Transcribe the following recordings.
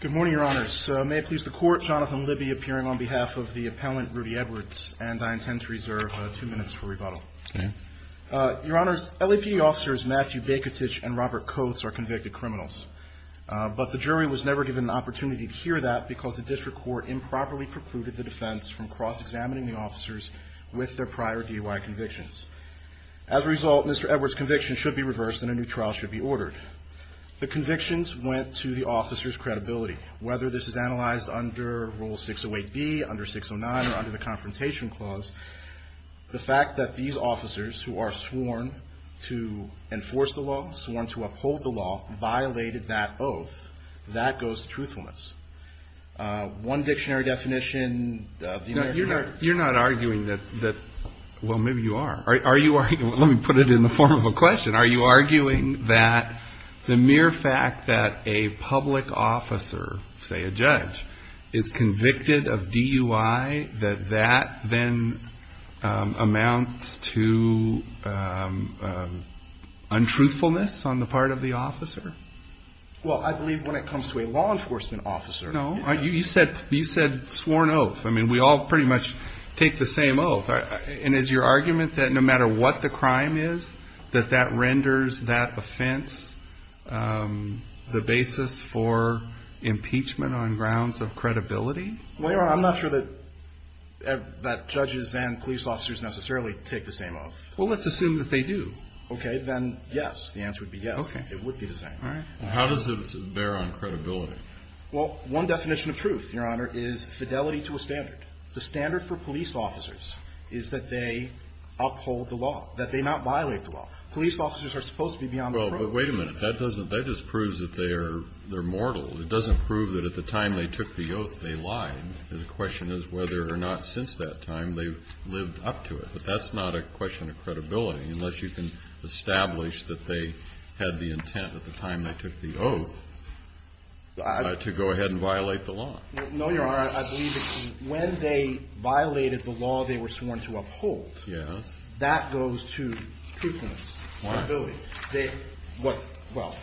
Good morning, your honors. May it please the court, Jonathan Libby appearing on behalf of the appellant, Rudy Edwards, and I intend to reserve two minutes for rebuttal. Your honors, LAPD officers Matthew Bakitich and Robert Coates are convicted criminals, but the jury was never given an opportunity to hear that because the district court improperly precluded the defense from cross-examining the officers with their prior DUI convictions. As a result, Mr. Edwards' conviction should be reversed and a new trial should be ordered. The convictions went to the officers' credibility. Whether this is analyzed under Rule 608B, under 609, or under the Confrontation Clause, the fact that these officers who are sworn to enforce the law, sworn to uphold the law, violated that oath, that goes to truthfulness. One dictionary definition of the American... JUDGE LEBEN You're not arguing that, well, maybe you are. Let me put it in the form of a question. Are you arguing that the mere fact that a public officer, say a judge, is convicted of DUI, that that then amounts to untruthfulness on the part of the officer? MR. EDWARDS Well, I believe when it comes to a law enforcement officer... JUDGE LEBEN No. You said sworn oath. I mean, we all pretty much take the same oath. And is your argument that no matter what the crime is, that that renders that offense the basis for impeachment on grounds of credibility? MR. EDWARDS Well, Your Honor, I'm not sure that judges and police officers necessarily take the same oath. JUDGE LEBEN Well, let's assume that they do. MR. EDWARDS Okay, then yes. The answer would be yes. JUDGE LEBEN Okay. MR. EDWARDS It would be the same. JUDGE LEBEN All right. Well, how does it bear on credibility? MR. EDWARDS Well, one definition of truth, Your Honor, is fidelity to a standard. The standard for police officers is that they uphold the law, that they not violate the law. Police officers are supposed to be beyond the problem. JUDGE LEBEN Well, but wait a minute. That doesn't – that just proves that they are – they're mortal. It doesn't prove that at the time they took the oath, they lied. The question is whether or not since that time they've lived up to it. But that's not a question of credibility unless you can establish that they had the intent at the time they took the oath to go ahead and violate the law. MR. EDWARDS No, Your Honor, I believe it's when they violated the law they were sworn to uphold. JUDGE LEBEN Yes. MR. EDWARDS That goes to truthfulness. JUDGE LEBEN Why? MR. EDWARDS Well,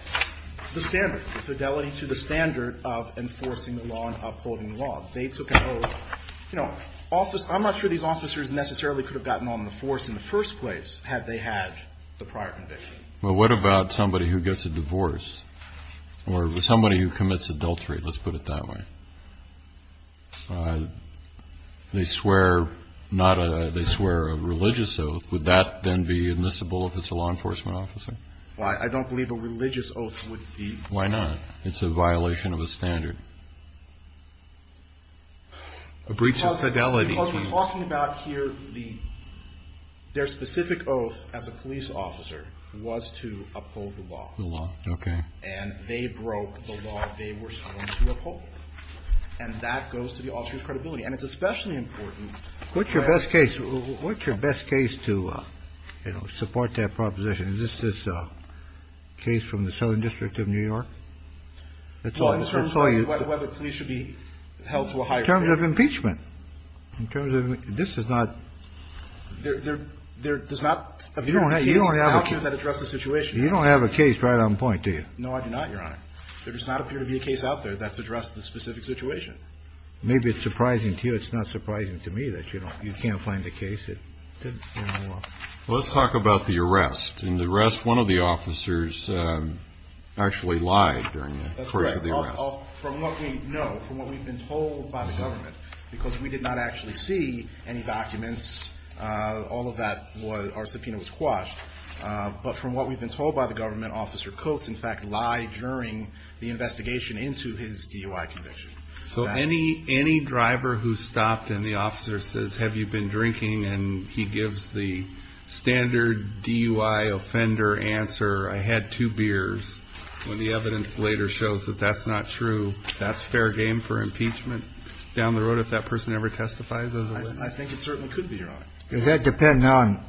the standard, the fidelity to the standard of enforcing the law and upholding the law. They took an oath. You know, I'm not sure these officers necessarily could have gotten on the force in the first place had they had the prior conviction. KENNEDY Well, what about somebody who gets a divorce or somebody who commits adultery? Let's put it that way. They swear not a – they swear a religious oath. Would that then be admissible if it's a law enforcement officer? MR. EDWARDS I don't believe a religious oath would be. KENNEDY Why not? It's a violation of a standard. A breach of fidelity. MR. EDWARDS Because we're talking about here the – their specific oath as a police officer was to uphold the law. KENNEDY The law. Okay. MR. EDWARDS And they broke the law they were sworn to uphold. And that goes to the officer's credibility. And it's especially important. KENNEDY What's your best case – what's your best case to, you know, support that proposition? Is this a case from the Southern District of New York? MR. EDWARDS Well, in terms of whether police should be held to a higher standard. KENNEDY In terms of impeachment. In terms of – this is not – MR. EDWARDS There does not appear to be a case out there that addresses the situation. KENNEDY You don't have a case right on point, do you? MR. EDWARDS No, I do not, Your Honor. There does not appear to be a case out there that's addressed the specific situation. Maybe it's surprising to you. It's not surprising to me that you don't – you can't find a case that doesn't deal with the law. KENNEDY Well, let's talk about the arrest. In the arrest, one of the officers actually lied during the course of the arrest. MR. EDWARDS That's correct. From what we know, from what we've been told by the government, because we did not actually see any documents, all of that was – our subpoena was quashed. But from what we've been told by the government, Officer Coates, in fact, lied during the investigation into his DUI conviction. So any driver who stopped and the officer says, have you been drinking, and he gives the standard DUI offender answer, I had two beers, when the evidence later shows that that's not true, that's fair game for impeachment down the road if that person ever testifies as a witness? MR. EDWARDS I think it certainly could be, Your Honor. KENNEDY Does that depend on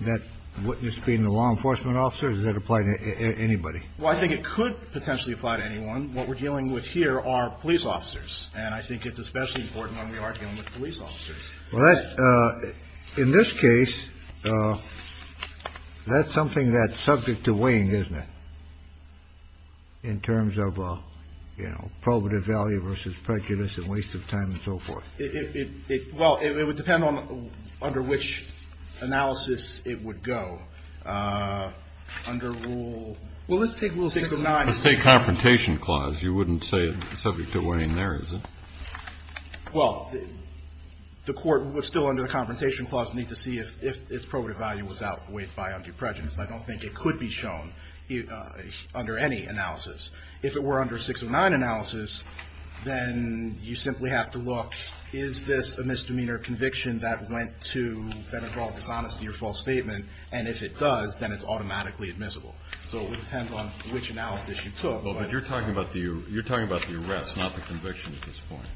that witness being the law enforcement officer? Does that apply to anybody? MR. EDWARDS Well, I think it could potentially apply to anyone. What we're dealing with here are police officers. And I think it's especially important when we are dealing with police officers. KENNEDY Well, in this case, that's something that's subject to weighing, isn't it, in terms of probative value versus prejudice and waste of time and so forth? MR. EDWARDS Well, it would depend on under which analysis it would go. Under rule – KENNEDY Well, let's take Rule 609. THE COURT Let's take Confrontation Clause. You wouldn't say it's subject to weighing there, is it? MR. EDWARDS Well, the Court was still under the Confrontation Clause. We need to see if its probative value was outweighed by undue prejudice. I don't think it could be shown under any analysis. If it were under 609 analysis, then you simply have to look, is this a misdemeanor conviction that went to, that involved dishonesty or false statement? And if it does, then it's automatically admissible. So it would depend on which analysis you took. KENNEDY Well, but you're talking about the arrest, not the conviction at this point,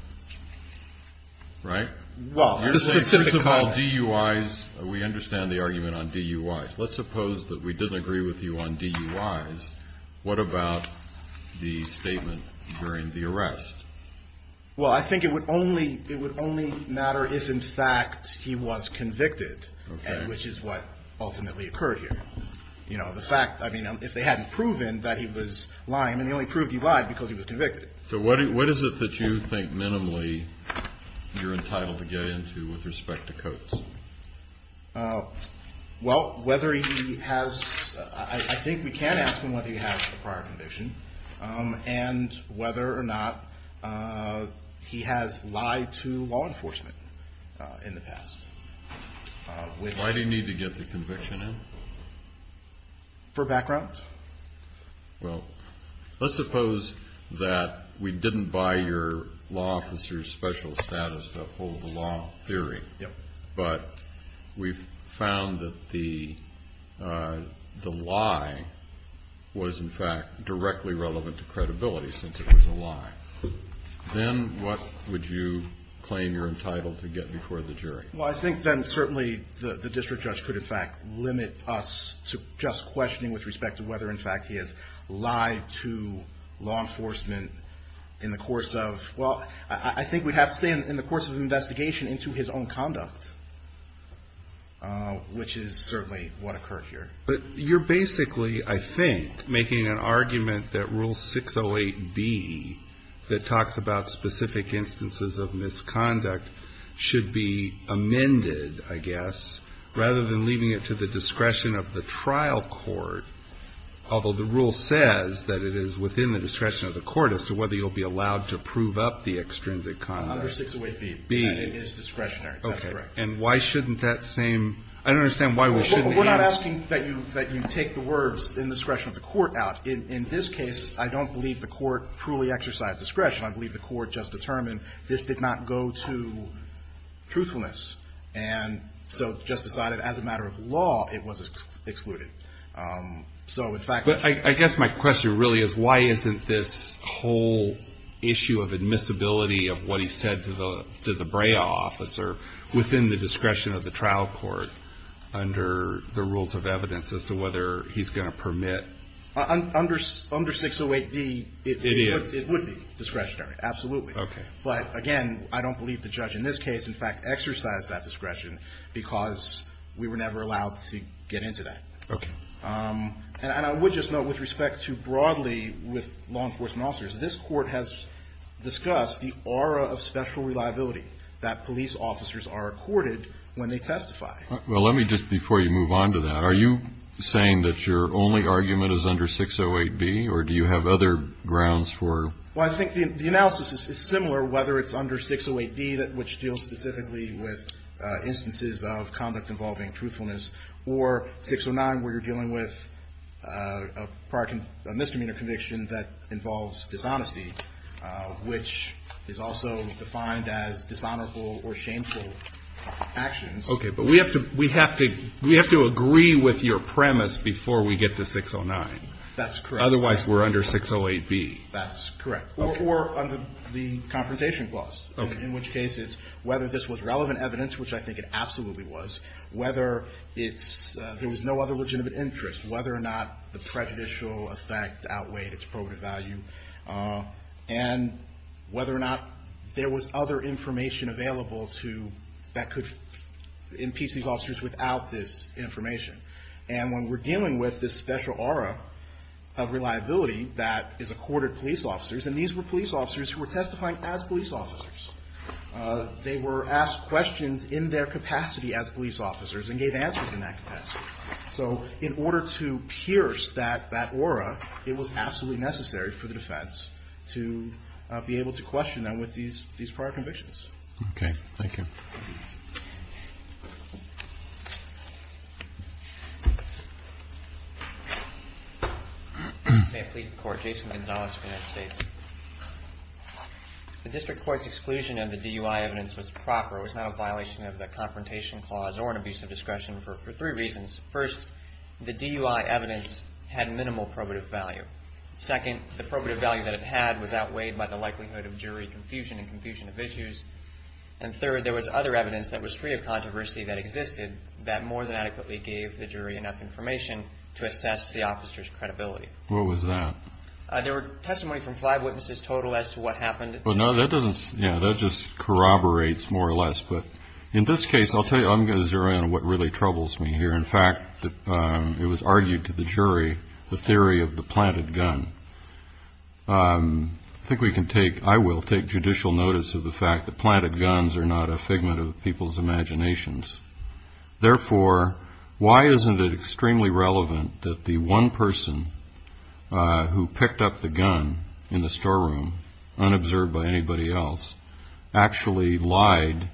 right? MR. EDWARDS Well, the specific kind of – KENNEDY First of all, DUIs, we understand the argument on DUIs. Let's suppose that we didn't agree with you on DUIs. What about the statement during the arrest? MR. EDWARDS Well, I think it would only matter if, in fact, he was convicted, which is what ultimately occurred here. You know, the fact – I mean, if they hadn't proven that he was lying – I mean, they only proved he lied because he was convicted. KENNEDY So what is it that you think minimally you're entitled to get into with respect to Coates? MR. EDWARDS Well, whether he has – I think we can ask him whether he has a prior conviction and whether or not he has lied to law enforcement in the past. KENNEDY Why do you need to get the conviction in? MR. EDWARDS For background. KENNEDY Well, let's suppose that we didn't buy your law officer's special status to uphold the law theory, but we found that the lie was, in fact, directly relevant to credibility since it was a lie. Then what would you claim you're entitled to get before the jury? MR. EDWARDS Well, I think then certainly the district judge could, in fact, limit us to just questioning with respect to whether, in fact, he has lied to law enforcement in the course of – well, I think we'd have to say in the course of an investigation into his own conduct, CHIEF JUSTICE ROBERTS But you're basically, I think, making an argument that Rule 608B, that talks about specific instances of misconduct, should be amended, I guess, rather than leaving it to the discretion of the trial court, although the rule says that it is within the discretion of the court as to whether you'll be allowed to prove up the extrinsic conduct. MR. EDWARDS Under 608B, it is discretionary. CHIEF JUSTICE ROBERTS Okay. And why shouldn't that same – I don't understand why we shouldn't ask. MR. EDWARDS We're not asking that you take the words in the discretion of the court out. In this case, I don't believe the court truly exercised discretion. I believe the court just determined this did not go to truthfulness, and so just decided as a matter of law it was excluded. CHIEF JUSTICE ROBERTS But I guess my question really is, why isn't this whole issue of admissibility of what he said to the BRAEA officer within the discretion of the trial court under the rules of evidence as to whether he's going to permit – MR. EDWARDS Under 608B, it would be discretionary, absolutely. MR. EDWARDS But again, I don't believe the judge in this case, in fact, exercised that discretion because we were never allowed to get into that. CHIEF JUSTICE ROBERTS Okay. MR. EDWARDS And I would just note with respect to broadly with law enforcement officers, this Court has discussed the aura of special reliability that police officers are accorded when they testify. CHIEF JUSTICE ROBERTS Well, let me just – before you move on to that, are you saying that your only argument is under 608B, or do you have other grounds for – MR. EDWARDS Well, I think the analysis is similar whether it's under 608B, which deals specifically with instances of conduct involving truthfulness, or 609 where you're dealing with a misdemeanor conviction that involves dishonesty, which is also defined as dishonorable or shameful actions. CHIEF JUSTICE ROBERTS Okay. But we have to agree with your premise before we get to 609. MR. EDWARDS That's correct. CHIEF JUSTICE ROBERTS Otherwise, we're under 608B. MR. EDWARDS That's correct. Or under the Confrontation Clause. CHIEF JUSTICE ROBERTS Okay. MR. EDWARDS In which case it's whether this was relevant evidence, which I think it absolutely was, whether it's – there was no other legitimate interest, whether or not the prejudicial effect outweighed its probative value, and whether or not there was other information available to – that could impeach these officers without this information. And when we're dealing with this special aura of reliability that is accorded police officers, and these were police officers who were testifying as police officers. They were asked questions in their capacity as police officers and gave answers in that capacity. So in order to pierce that aura, it was absolutely necessary for the defense to be able to question them with these prior convictions. CHIEF JUSTICE ROBERTS Okay. Thank you. MR. GINSBURG May it please the Court, Jason Gonzalez for the United States. The District Court's exclusion of the DUI evidence was proper. It was not a violation of the Confrontation Clause or an abuse of discretion for three reasons. First, the DUI evidence had minimal probative value. Second, the probative value that it had was outweighed by the likelihood of jury confusion and confusion of issues. And third, there was other evidence that was free of controversy that existed that more than adequately gave the jury enough information to assess the officer's credibility. CHIEF JUSTICE ROBERTS What was that? MR. GINSBURG There were testimony from five witnesses total as to what happened. CHIEF JUSTICE ROBERTS That just corroborates more or less. In this case, I'll tell you, I'm going to zero in on what really troubles me here. In fact, it was argued to the jury, the theory of the planted gun. I think we can take, I will take judicial notice of the fact that planted guns are not a figment of people's imaginations. Therefore, why isn't it extremely relevant that the one person who picked up the gun in the storeroom, unobserved by anybody else, actually lied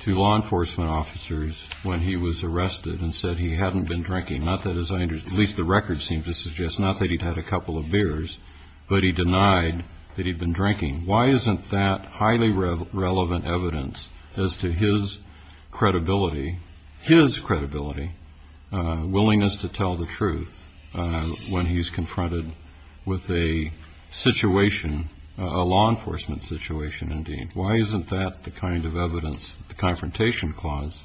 to law enforcement officers when he was arrested and said he hadn't been drinking, not that his, at least the record seems to suggest, not that he'd had a couple of beers, but he denied that he'd been drinking? Why isn't that highly relevant evidence as to his credibility, his credibility, willingness to tell the truth when he's confronted with a situation, a law enforcement situation indeed? Why isn't that the kind of evidence the Confrontation Clause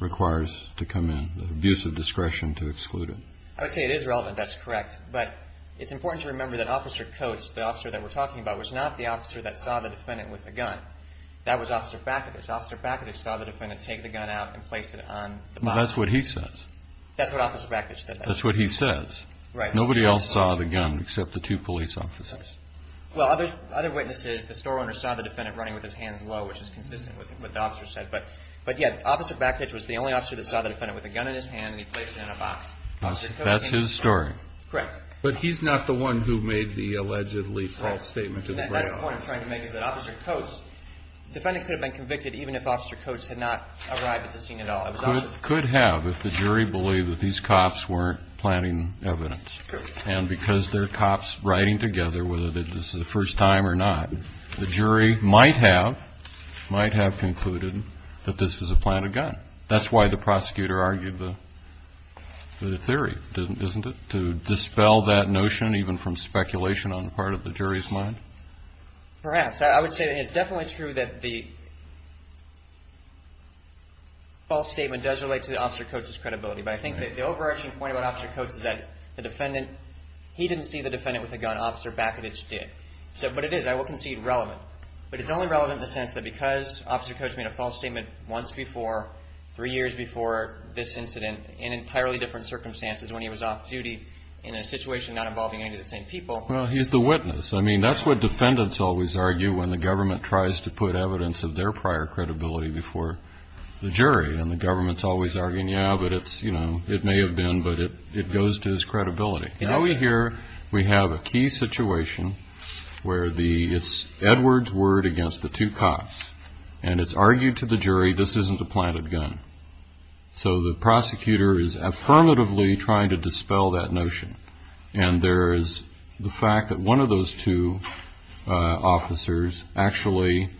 requires to come in, the abuse of discretion to exclude it? MR. GINSBURG I would say it is relevant. That's correct. But it's important to remember that Officer Coates, the officer that we're talking about, was not the officer that saw the defendant with the gun. That was Officer Fakadish. Officer Fakadish saw the defendant take the gun out and place it on the box. That's what he says. That's what Officer Fakadish said. That's what he says. Right. Nobody else saw the gun except the two police officers. Well, other witnesses, the store owner saw the defendant running with his hands low, which is consistent with what the officer said. But, yeah, Officer Fakadish was the only officer that saw the defendant with a gun in his hand, and he placed it in a box. That's his story. Correct. But he's not the one who made the allegedly false statement to the press. Right. And that's the point I'm trying to make is that Officer Coates, the defendant could have been convicted even if Officer Coates had not arrived at the scene at all. He could have if the jury believed that these cops weren't planting evidence. And because they're cops riding together, whether this is the first time or not, the jury might have concluded that this was a planted gun. That's why the prosecutor argued the theory, isn't it, to dispel that notion even from speculation on the part of the jury's mind? Perhaps. I would say that it's definitely true that the false statement does relate to Officer Coates' credibility. But I think that the overarching point about Officer Coates is that the defendant, he didn't see the defendant with a gun. Officer Fakadish did. But it is, I will concede, relevant. But it's only relevant in the sense that because Officer Coates made a false statement once before, three years before this incident, in entirely different circumstances, when he was off duty in a situation not involving any of the same people. Well, he's the witness. I mean, that's what defendants always argue when the government tries to put evidence of their prior credibility before the jury. And the government's always arguing, yeah, but it's, you know, it may have been, but it goes to his credibility. Now we hear we have a key situation where it's Edwards' word against the two cops, and it's argued to the jury this isn't a planted gun. So the prosecutor is affirmatively trying to dispel that notion. And there is the fact that one of those two officers actually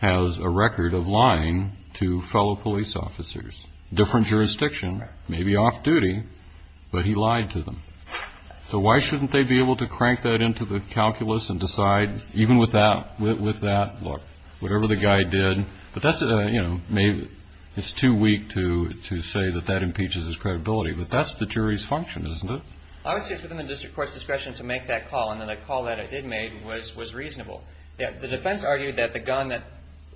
has a record of lying to fellow police officers, different jurisdiction, maybe off duty, but he lied to them. So why shouldn't they be able to crank that into the calculus and decide, even with that, look, whatever the guy did, but that's, you know, maybe it's too weak to say that that impeaches his credibility. But that's the jury's function, isn't it? I would say it's within the district court's discretion to make that call, and then the call that it did make was reasonable. The defense argued that the gun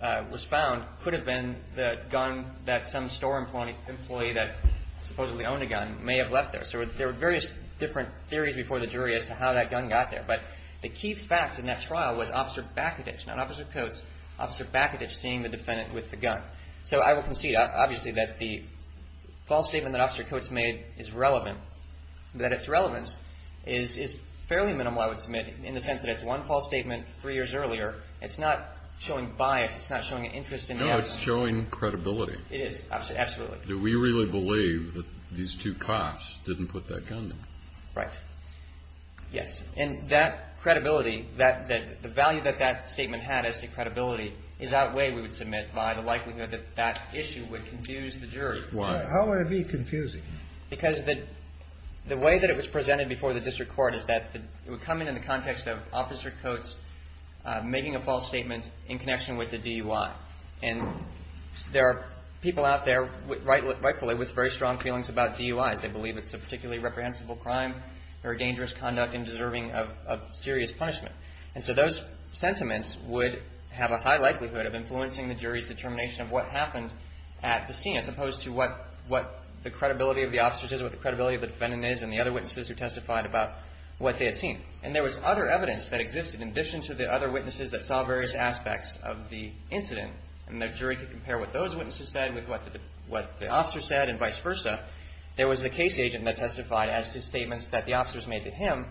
that was found could have been the gun that some store employee that supposedly owned a gun may have left there. So there were various different theories before the jury as to how that gun got there. But the key fact in that trial was Officer Bakadage, not Officer Coates, Officer Bakadage seeing the defendant with the gun. So I will concede obviously that the false statement that Officer Coates made is relevant, that its relevance is fairly minimal, I would submit, in the sense that it's one false statement three years earlier. It's not showing bias. It's not showing an interest in him. No, it's showing credibility. It is. Absolutely. Do we really believe that these two cops didn't put that gun there? Right. Yes. And that credibility, that the value that that statement had as to credibility is outweighed, we would submit, by the likelihood that that issue would confuse the jury. Why? How would it be confusing? Because the way that it was presented before the district court is that it would come in the context of Officer Coates making a false statement in connection with the DUI. And there are people out there, rightfully, with very strong feelings about DUIs. They believe it's a particularly reprehensible crime, very dangerous conduct, and deserving of serious punishment. And so those sentiments would have a high likelihood of influencing the jury's determination of what happened at the scene, as opposed to what the credibility of the officers is, what the credibility of the defendant is, and the other witnesses who testified about what they had seen. And there was other evidence that existed in addition to the other witnesses that saw various aspects of the incident. And the jury could compare what those witnesses said with what the officer said and vice versa. There was a case agent that testified as to statements that the officers made to him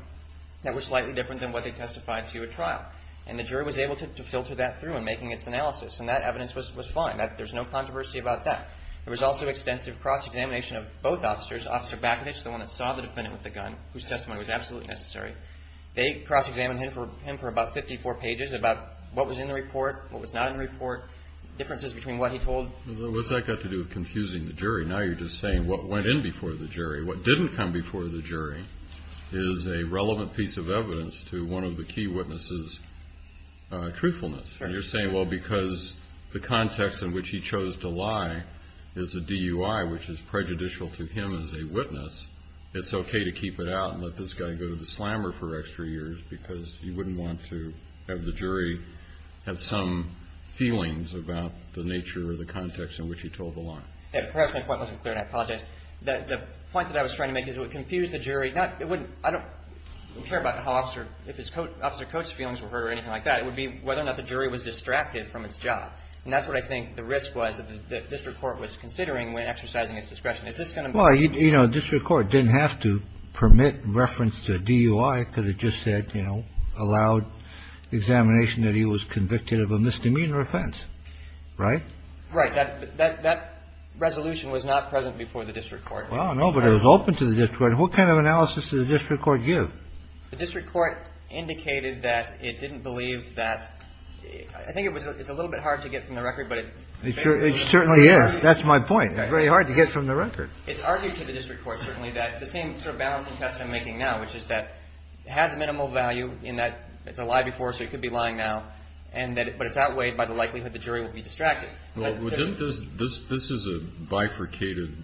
that were slightly different than what they testified to at trial. And the jury was able to filter that through in making its analysis. And that evidence was fine. There's no controversy about that. There was also extensive cross-examination of both officers. Officer Bacowicz, the one that saw the defendant with the gun, whose testimony was absolutely necessary, they cross-examined him for about 54 pages about what was in the report, what was not in the report, differences between what he told. What's that got to do with confusing the jury? Now you're just saying what went in before the jury. What didn't come before the jury is a relevant piece of evidence to one of the key witnesses' truthfulness. You're saying, well, because the context in which he chose to lie is a DUI, which is prejudicial to him as a witness, it's okay to keep it out and let this guy go to the slammer for extra years because you wouldn't want to have the jury have some feelings about the nature or the context in which he told the lie. The point that I was trying to make is it would confuse the jury. I don't care about how Officer Coates' feelings were heard or anything like that. It would be whether or not the jury was distracted from its job. And that's what I think the risk was that the district court was considering when exercising its discretion. Is this going to be? Well, you know, district court didn't have to permit reference to DUI because it just said, you know, allowed examination that he was convicted of a misdemeanor offense. Right? Right. That resolution was not present before the district court. Well, no, but it was open to the district court. What kind of analysis did the district court give? The district court indicated that it didn't believe that – I think it's a little bit hard to get from the record, but it – It certainly is. That's my point. It's very hard to get from the record. It's argued to the district court certainly that the same sort of balancing test I'm making now, which is that it has minimal value in that it's a lie before, so it could be lying now, but it's outweighed by the likelihood the jury will be distracted. Well, didn't this – this is a bifurcated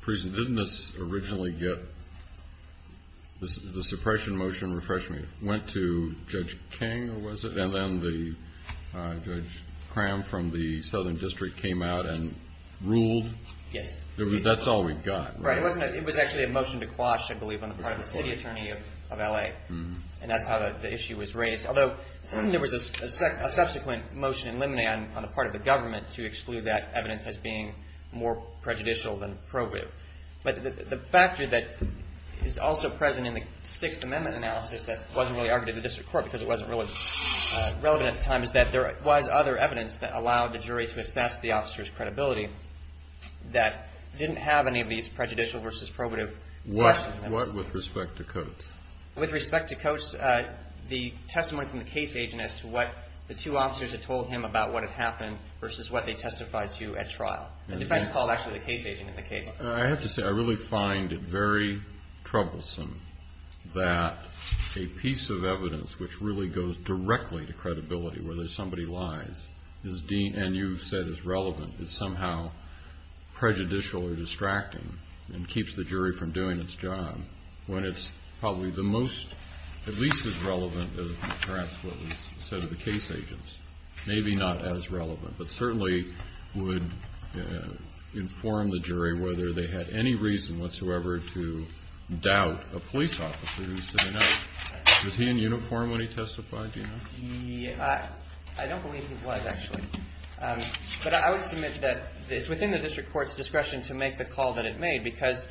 prison. Didn't this originally get – the suppression motion, refresh me, went to Judge King, or was it? And then Judge Cram from the southern district came out and ruled? Yes. That's all we've got, right? Right. It wasn't – it was actually a motion to quash, I believe, on the part of the city attorney of L.A., and that's how the issue was raised. Although there was a subsequent motion in limine on the part of the government to exclude that evidence as being more prejudicial than probative. But the factor that is also present in the Sixth Amendment analysis that wasn't really argued to the district court because it wasn't really relevant at the time is that there was other evidence that allowed the jury to assess the officer's credibility that didn't have any of these prejudicial versus probative questions. What with respect to Coates? The testimony from the case agent as to what the two officers had told him about what had happened versus what they testified to at trial. The defense called actually the case agent in the case. I have to say I really find it very troublesome that a piece of evidence which really goes directly to credibility, whether somebody lies, and you said is relevant, is somehow prejudicial or distracting and keeps the jury from doing its job when it's probably the most, at least as relevant, as perhaps what was said of the case agents. Maybe not as relevant, but certainly would inform the jury whether they had any reason whatsoever to doubt a police officer who was sitting out. Was he in uniform when he testified, do you know? I don't believe he was, actually. But I would submit that it's within the district court's discretion to make the call that it made because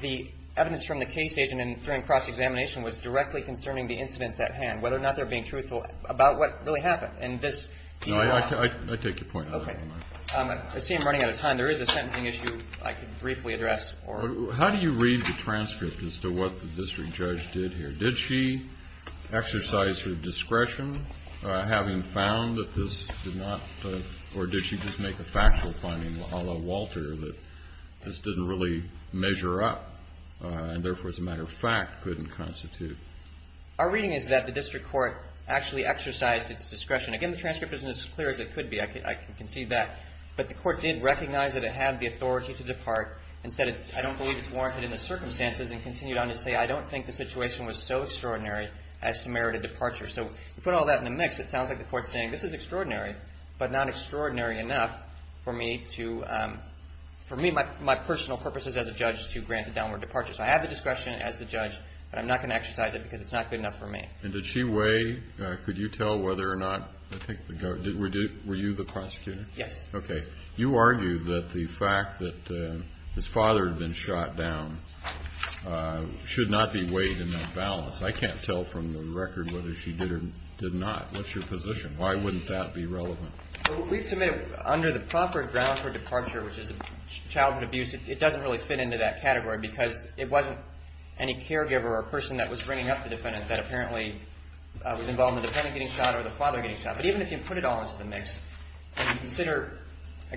the evidence from the case agent during cross-examination was directly concerning the incidents at hand, whether or not they're being truthful about what really happened. I take your point. I see I'm running out of time. There is a sentencing issue I could briefly address. How do you read the transcript as to what the district judge did here? Did she exercise her discretion, having found that this did not, or did she just make a factual finding, a la Walter, that this didn't really measure up and therefore, as a matter of fact, couldn't constitute? Our reading is that the district court actually exercised its discretion. Again, the transcript isn't as clear as it could be. I can see that. But the court did recognize that it had the authority to depart and said I don't believe it's warranted in the circumstances and continued on to say I don't think the situation was so extraordinary as to merit a departure. So you put all that in the mix, it sounds like the court's saying this is extraordinary, but not extraordinary enough for me to, for me, my personal purposes as a judge to grant a downward departure. So I have the discretion as the judge, but I'm not going to exercise it because it's not good enough for me. And did she weigh, could you tell whether or not, were you the prosecutor? Yes. Okay. You argue that the fact that his father had been shot down should not be weighed in that balance. I can't tell from the record whether she did or did not. What's your position? Why wouldn't that be relevant? We submit under the proper ground for departure, which is childhood abuse, it doesn't really fit into that category because it wasn't any caregiver or person that was bringing up the defendant that apparently was involved in the defendant getting shot or the father getting shot. But even if you put it all into the mix and consider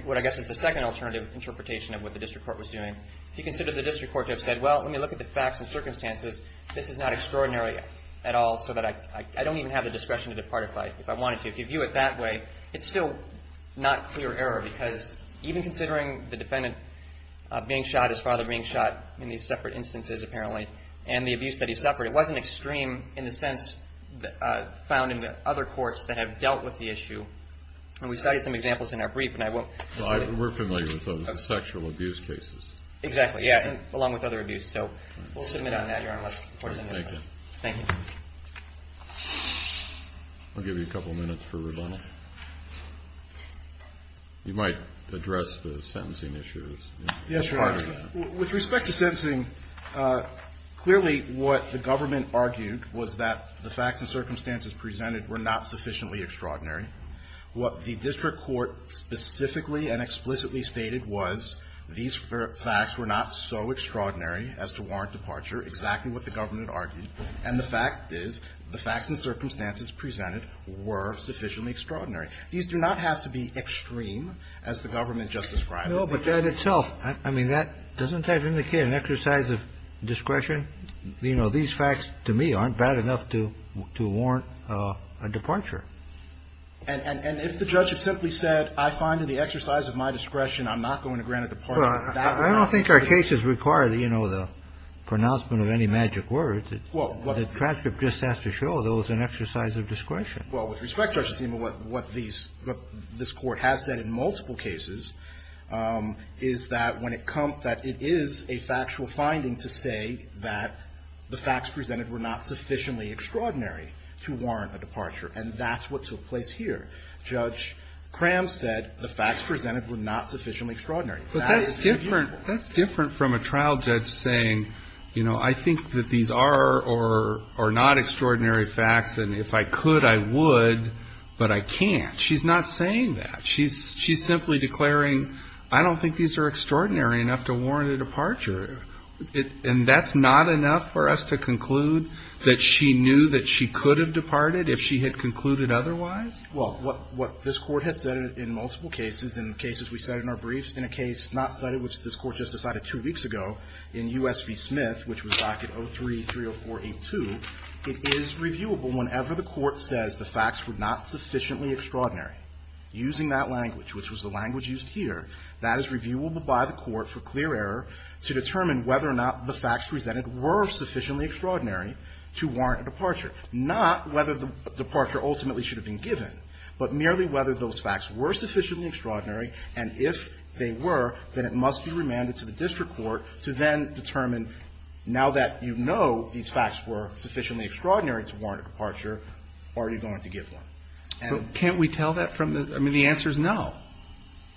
what I guess is the second alternative interpretation of what the district court was doing, if you consider the district court to have said, well, let me look at the facts and circumstances, this is not extraordinary at all so that I don't even have the discretion to depart if I wanted to. If you view it that way, it's still not clear error because even considering the defendant being shot, his father being shot in these separate instances apparently, and the abuse that he suffered, it wasn't extreme in the sense found in the other courts that have dealt with the issue. And we cited some examples in our brief. We're familiar with those sexual abuse cases. Exactly, yeah, along with other abuse. So we'll submit on that, Your Honor. Thank you. Thank you. I'll give you a couple minutes for rebuttal. You might address the sentencing issues. Yes, Your Honor. With respect to sentencing, clearly what the government argued was that the facts and circumstances presented were not sufficiently extraordinary. What the district court specifically and explicitly stated was these facts were not so extraordinary as to warrant departure, exactly what the government argued. And the fact is the facts and circumstances presented were sufficiently extraordinary. These do not have to be extreme, as the government just described. No, but that itself, I mean, that doesn't that indicate an exercise of discretion? You know, these facts to me aren't bad enough to warrant a departure. And if the judge had simply said, I find in the exercise of my discretion I'm not going to grant a departure, that would not be true. I don't think our cases require, you know, the pronouncement of any magic words. The transcript just has to show there was an exercise of discretion. Well, with respect, Judge Acima, what these, what this Court has said in multiple cases is that when it comes, that it is a factual finding to say that the facts presented were not sufficiently extraordinary to warrant a departure. And that's what took place here. Judge Cram said the facts presented were not sufficiently extraordinary. But that's different. That's different from a trial judge saying, you know, I think that these are or are not extraordinary facts, and if I could, I would, but I can't. She's not saying that. She's simply declaring, I don't think these are extraordinary enough to warrant a departure. And that's not enough for us to conclude that she knew that she could have departed if she had concluded otherwise? Well, what this Court has said in multiple cases, in cases we said in our briefs, in a case not cited, which this Court just decided two weeks ago in U.S. v. Smith, which was docket 03-304-82, it is reviewable whenever the Court says the facts were not sufficiently extraordinary. Using that language, which was the language used here, that is reviewable by the Court for clear error to determine whether or not the facts presented were sufficiently extraordinary to warrant a departure, not whether the departure ultimately should have been given, but merely whether those facts were sufficiently extraordinary, and if they were, then it must be remanded to the district court to then determine, now that you know these facts were sufficiently extraordinary to warrant a departure, are you going to give one? But can't we tell that from the – I mean, the answer is no.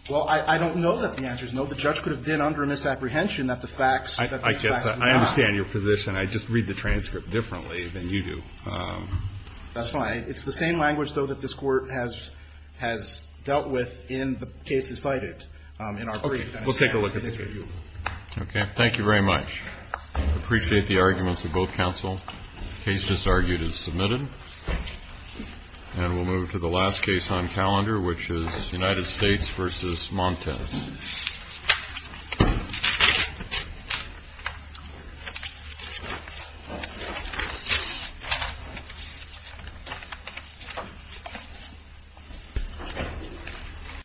Well, I don't know that the answer is no. The judge could have been under a misapprehension that the facts, that these facts were not. I understand your position. I just read the transcript differently than you do. That's fine. It's the same language, though, that this Court has dealt with in the cases cited in our brief. Okay. We'll take a look at this case. Okay. Thank you very much. I appreciate the arguments of both counsel. The case disargued is submitted. And we'll move to the last case on calendar, which is United States v. Montes. Thank you.